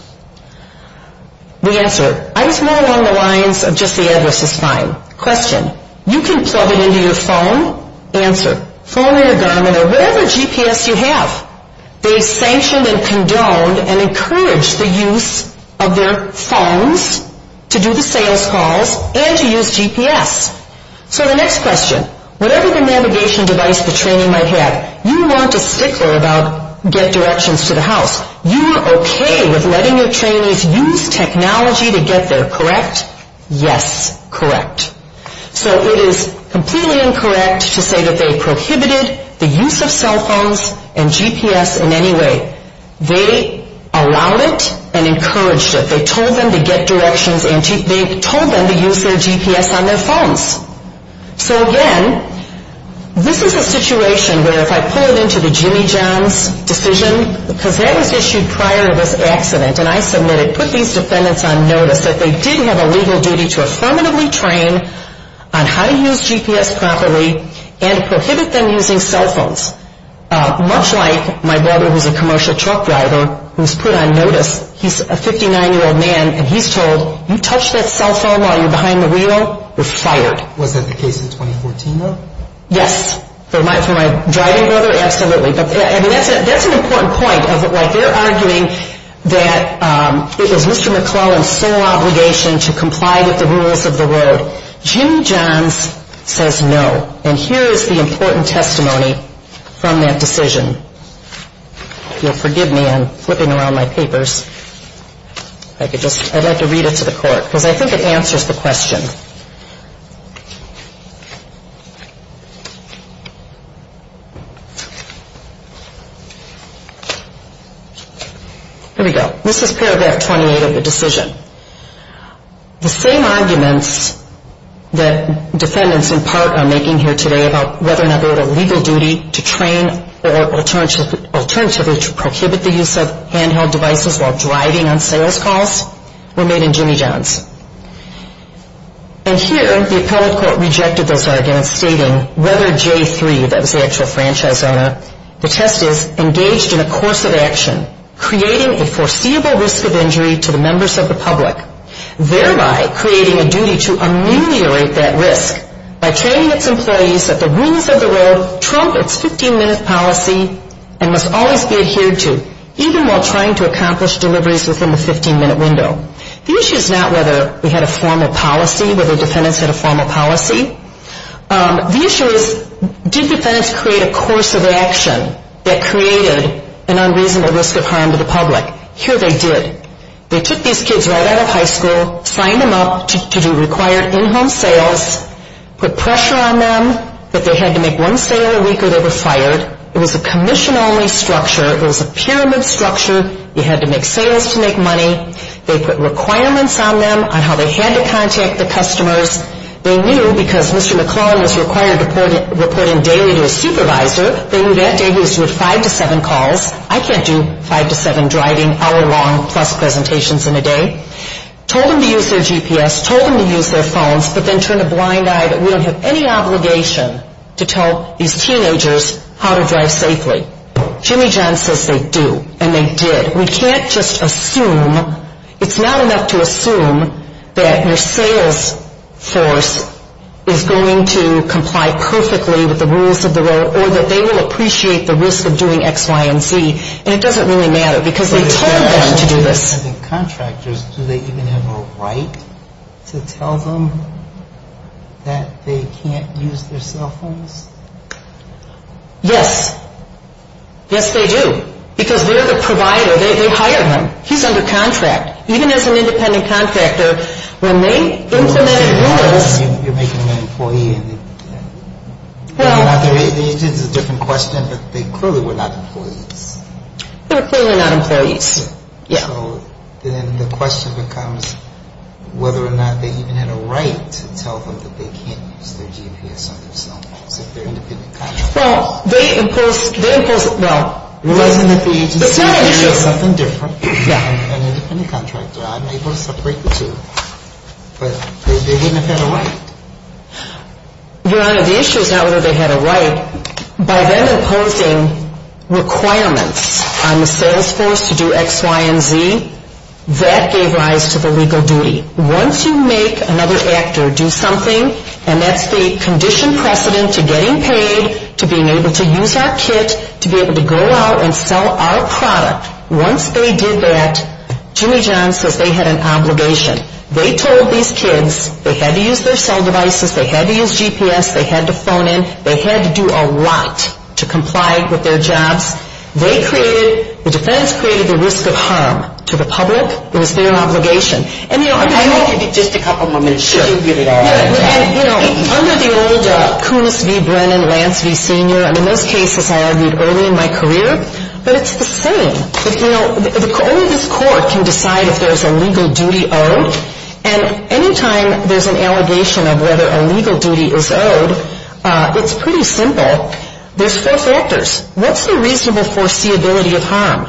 The answer, I just went along the lines of just the address is fine. Question. You can plug it into your phone. Answer. Phone or your Garmin or whatever GPS you have. They sanctioned and condoned and encouraged the use of their phones to do the sales calls and to use GPS. So the next question. Whatever the navigation device the trainee might have, you weren't a stickler about get directions to the house. You were okay with letting your trainees use technology to get there, correct? Yes, correct. So it is completely incorrect to say that they prohibited the use of cell phones and GPS in any way. They allowed it and encouraged it. They told them to get directions and they told them to use their GPS on their phones. So again, this is a situation where if I pull it into the Jimmy John's decision, because that was issued prior to this accident and I submitted, put these defendants on notice that they did have a legal duty to affirmatively train on how to use GPS properly and prohibit them using cell phones, much like my brother who is a commercial truck driver who was put on notice. He's a 59-year-old man and he's told, you touch that cell phone while you're behind the wheel, you're fired. Was that the case in 2014, though? Yes. For my driving brother, absolutely. That's an important point of why they're arguing that it was Mr. McClellan's sole obligation to comply with the rules of the road. Jimmy John's says no. And here is the important testimony from that decision. If you'll forgive me, I'm flipping around my papers. I'd like to read it to the court because I think it answers the question. Here we go. This is paragraph 28 of the decision. The same arguments that defendants in part are making here today about whether or not they had a legal duty to train or alternatively to prohibit the use of handheld devices while driving on sales calls were made in Jimmy John's. And here the appellate court rejected those arguments stating whether J3, that was the actual franchise owner, the test is engaged in a course of action, creating a foreseeable risk of injury to the members of the public, thereby creating a duty to ameliorate that risk by training its employees that the rules of the road trump its 15-minute policy and must always be adhered to, even while trying to accomplish deliveries within the 15-minute window. The issue is not whether we had a formal policy, whether defendants had a formal policy. The issue is did defendants create a course of action that created an unreasonable risk of harm to the public. Here they did. They took these kids right out of high school, signed them up to do required in-home sales, put pressure on them that they had to make one sale a week or they were fired. It was a commission-only structure. It was a pyramid structure. You had to make sales to make money. They put requirements on them on how they had to contact the customers. They knew because Mr. McClellan was required to report in daily to a supervisor, they knew that day he was doing five to seven calls. I can't do five to seven driving hour-long plus presentations in a day. Told them to use their GPS, told them to use their phones, but then turned a blind eye that we don't have any obligation to tell these teenagers how to drive safely. Jimmy John says they do, and they did. We can't just assume. It's not enough to assume that your sales force is going to comply perfectly with the rules of the road or that they will appreciate the risk of doing X, Y, and Z. And it doesn't really matter because they told them to do this. As independent contractors, do they even have a right to tell them that they can't use their cell phones? Yes. Yes, they do. Because they're the provider. They hire them. He's under contract. Even as an independent contractor, when they implemented rules... You're making them an employee. It's a different question, but they clearly were not employees. They were clearly not employees. So then the question becomes whether or not they even had a right to tell them that they can't use their GPS on their cell phones if they're independent contractors. Well, they imposed... It wasn't that the agency had to do something different. I'm an independent contractor. I'm able to separate the two. But they didn't have a right. Your Honor, the issue is not whether they had a right. By them imposing requirements on the sales force to do X, Y, and Z, that gave rise to the legal duty. Once you make another actor do something, and that's the condition precedent to getting paid, to being able to use our kit, to be able to go out and sell our product, once they did that, Jimmy John's says they had an obligation. They told these kids they had to use their cell devices, they had to use GPS, they had to phone in, they had to do a lot to comply with their jobs. They created, the defense created the risk of harm to the public. It was their obligation. And, you know, under the old... I want to give you just a couple of moments. Sure. So you can get it all out. And, you know, under the old Kunis v. Brennan, Lance v. Senior, and in those cases I argued early in my career, but it's the same. You know, only this court can decide if there's a legal duty owed. And any time there's an allegation of whether a legal duty is owed, it's pretty simple. There's four factors. What's the reasonable foreseeability of harm?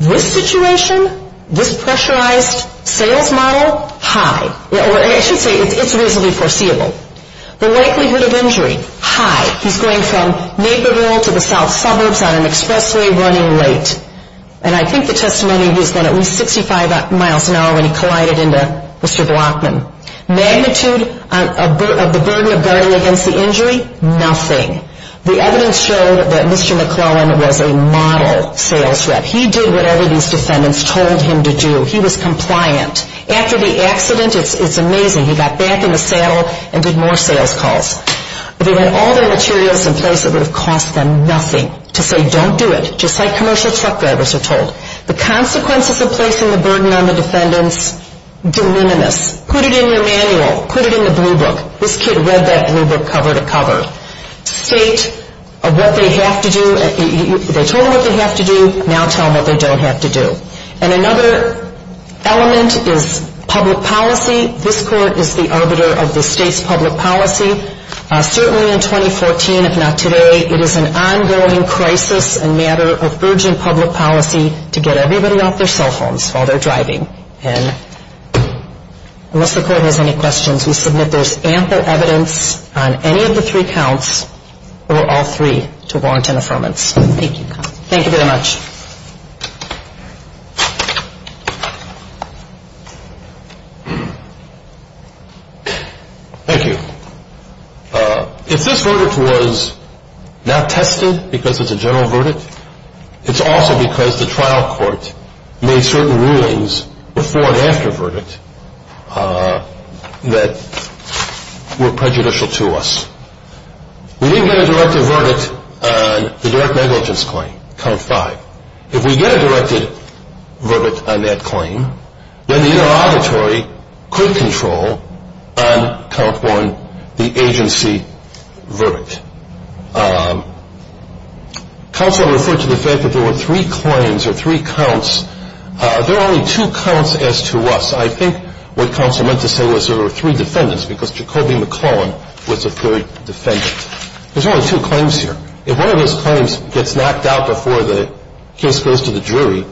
This situation, this pressurized sales model, high. Or I should say it's reasonably foreseeable. The likelihood of injury, high. He's going from Naperville to the south suburbs on an expressway running late. And I think the testimony was then at least 65 miles an hour when he collided into Mr. Blockman. Magnitude of the burden of guarding against the injury, nothing. The evidence showed that Mr. McClellan was a model sales rep. He did whatever these defendants told him to do. He was compliant. After the accident, it's amazing. He got back in the saddle and did more sales calls. If he had all the materials in place, it would have cost them nothing to say don't do it. Just like commercial truck drivers are told. The consequences of placing the burden on the defendants, delimitous. Put it in your manual. Put it in the blue book. This kid read that blue book cover to cover. State what they have to do. They told him what they have to do. Now tell him what they don't have to do. And another element is public policy. This court is the arbiter of the state's public policy. Certainly in 2014, if not today, it is an ongoing crisis and matter of urgent public policy to get everybody off their cell phones while they're driving. And unless the court has any questions, we submit there's ample evidence on any of the three counts or all three to warrant an affirmance. Thank you. Thank you very much. Thank you. If this verdict was not tested because it's a general verdict, it's also because the trial court made certain rulings before and after verdict that were prejudicial to us. We didn't get a directed verdict on the direct negligence claim, count five. If we get a directed verdict on that claim, then the inter-auditory could control on count one the agency verdict. Counsel referred to the fact that there were three claims or three counts. There are only two counts as to us. I think what counsel meant to say was there were three defendants because Jacoby McClellan was the third defendant. There's only two claims here. If one of those claims gets knocked out before the case goes to the jury,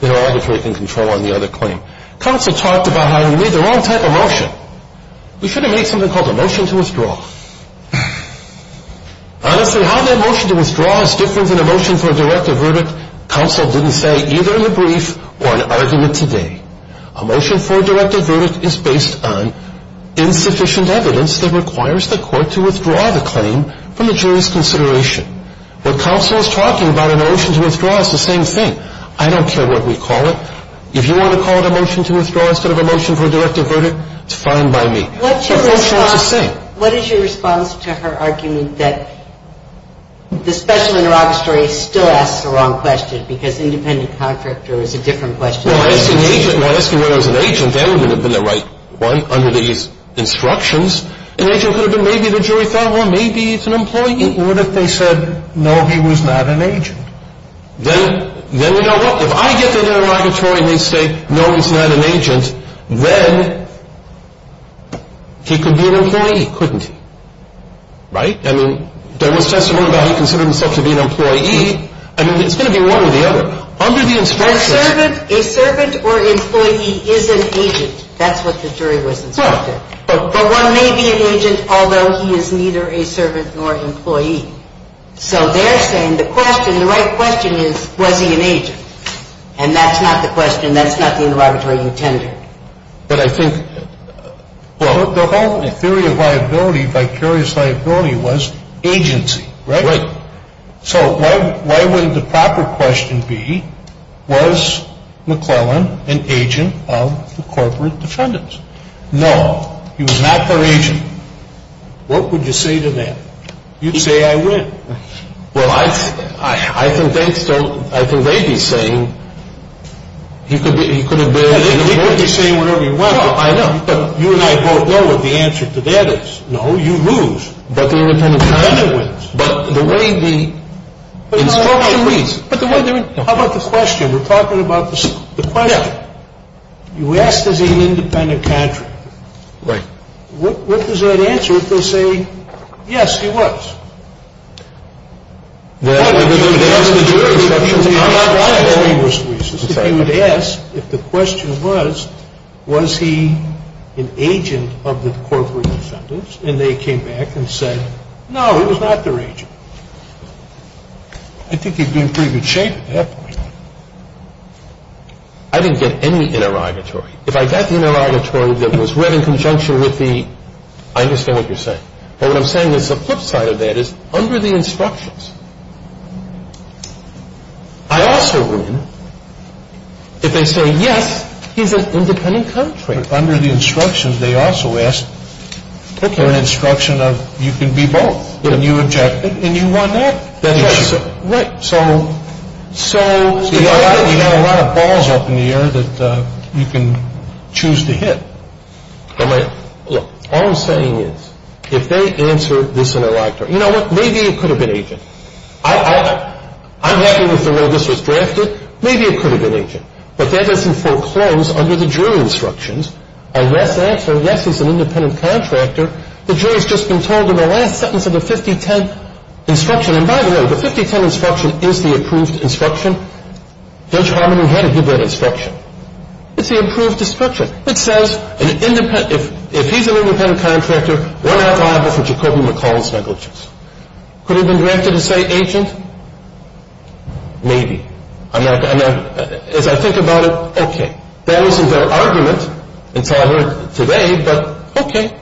the inter-auditory can control on the other claim. Counsel talked about how we made the wrong type of motion. We should have made something called a motion to withdraw. Honestly, how that motion to withdraw is different than a motion for a directed verdict, counsel didn't say either in the brief or in an argument today. A motion for a directed verdict is based on insufficient evidence that requires the court to withdraw the claim from the jury's consideration. What counsel is talking about in a motion to withdraw is the same thing. I don't care what we call it. If you want to call it a motion to withdraw instead of a motion for a directed verdict, it's fine by me. What is your response to her argument that the special inter-auditory still asks the wrong question because independent contractor is a different question? Well, asking whether it was an agent, that would have been the right one under these instructions. An agent could have been maybe the jury thought, well, maybe it's an employee. What if they said, no, he was not an agent? Then you know what? If I get the inter-auditory and they say, no, he's not an agent, then he could be an employee, couldn't he? Right? I mean, there was testimony that he considered himself to be an employee. I mean, it's going to be one or the other. Under the instructions. A servant or employee is an agent. That's what the jury was instructed. But one may be an agent, although he is neither a servant nor an employee. So they're saying the question, the right question is, was he an agent? And that's not the question. That's not the inter-auditory intended. But I think the whole theory of liability, vicarious liability, was agency, right? Right. So why wouldn't the proper question be, was McClellan an agent of the corporate defendants? No, he was not their agent. What would you say to that? You'd say I win. Well, I think they'd be saying he could have been. He could be saying whatever he wants. No, I know. You and I both know what the answer to that is. No, you lose. But the independent contractor wins. But the way the instruction reads. How about the question? We're talking about the question. You ask, is he an independent contractor? Right. What is that answer if they say, yes, he was? Well, if you would ask the jury questions, I'm not going to say he was. If you would ask if the question was, was he an agent of the corporate defendants? And they came back and said, no, he was not their agent. I think he'd be in pretty good shape at that point. I didn't get any inter-auditory. If I got the inter-auditory that was read in conjunction with the, I understand what you're saying. But what I'm saying is the flip side of that is under the instructions. I also win if they say, yes, he's an independent contractor. Under the instructions, they also asked for an instruction of you can be both. And you objected and you won that. That's right. Right. So you've got a lot of balls up in the air that you can choose to hit. Look, all I'm saying is if they answer this inter-auditory, you know what? Maybe it could have been agent. I'm happy with the way this was drafted. Maybe it could have been agent. But that doesn't foreclose under the jury instructions. Unless they answer, yes, he's an independent contractor, the jury's just been told in the last sentence of the 5010 instruction, and by the way, the 5010 instruction is the approved instruction. Judge Harmon had to give that instruction. It's the approved instruction. It says if he's an independent contractor, we're not liable for Jacobi-McCollins negligence. Could it have been drafted to say agent? Maybe. As I think about it, okay. That wasn't their argument until I heard it today, but okay,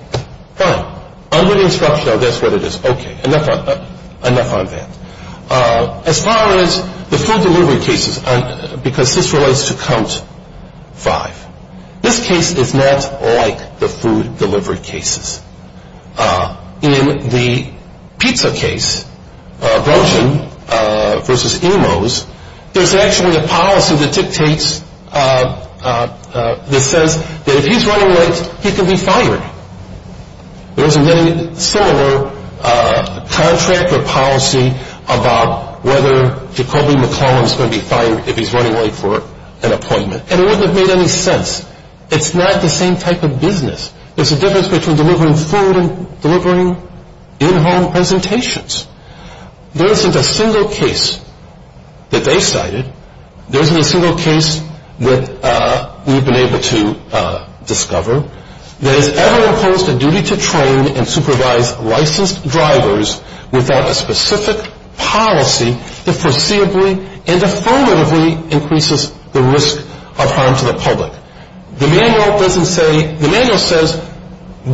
fine. Under the instruction, I'll guess what it is. Okay. Enough on that. As far as the food delivery cases, because this relates to count five. This case is not like the food delivery cases. In the pizza case, Groschen v. Emos, there's actually a policy that dictates, that says that if he's running late, he can be fired. There's a very similar contractor policy about whether Jacobi-McCollins is going to be fired if he's running late for an appointment, and it wouldn't have made any sense. It's not the same type of business. There's a difference between delivering food and delivering in-home presentations. There isn't a single case that they cited. There isn't a single case that we've been able to discover that has ever imposed a duty to train and supervise licensed drivers without a specific policy that foreseeably and affirmatively increases the risk of harm to the public. The manual says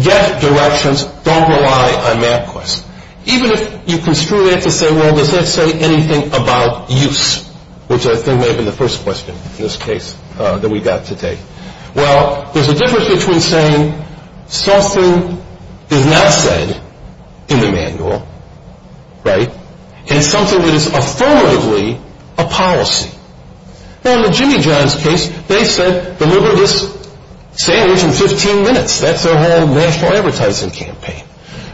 get directions, don't rely on MapQuest. Even if you construe it to say, well, does that say anything about use, which I think may have been the first question in this case that we got to take. Well, there's a difference between saying something is not said in the manual, right, and something that is affirmatively a policy. Well, in the Jimmy John's case, they said deliver this sandwich in 15 minutes. That's their whole national advertising campaign.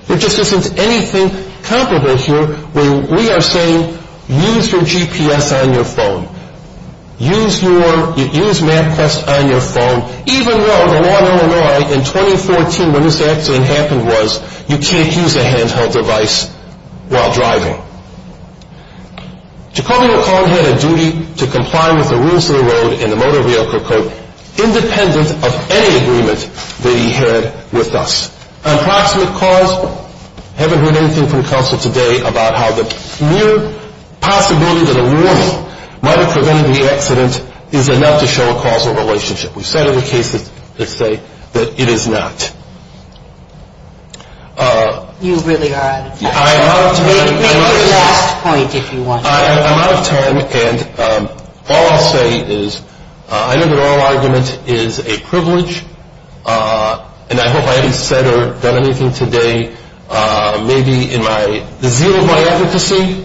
There just isn't anything comparable here when we are saying use your GPS on your phone. Use MapQuest on your phone, even though the law in Illinois in 2014 when this accident happened was you can't use a handheld device while driving. Jacobi O'Connor had a duty to comply with the rules of the road and the motor vehicle independent of any agreement that he had with us. On proximate cause, I haven't heard anything from counsel today about how the mere possibility that a warning might have prevented the accident is enough to show a causal relationship. We've said in the cases that say that it is not. You really are out of time. I'm out of time. Make your last point if you want to. I'm out of time, and all I'll say is I know that our argument is a privilege, and I hope I haven't said or done anything today maybe in the zeal of my advocacy.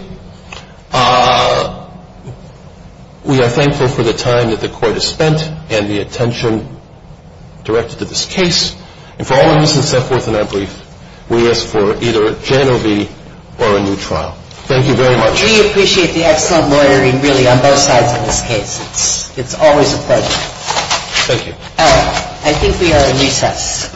We are thankful for the time that the court has spent and the attention directed to this case, and for all the reasons set forth in our brief, we ask for either a January or a new trial. Thank you very much. We appreciate the excellent lawyering really on both sides of this case. It's always a pleasure. Thank you. I think we are in recess.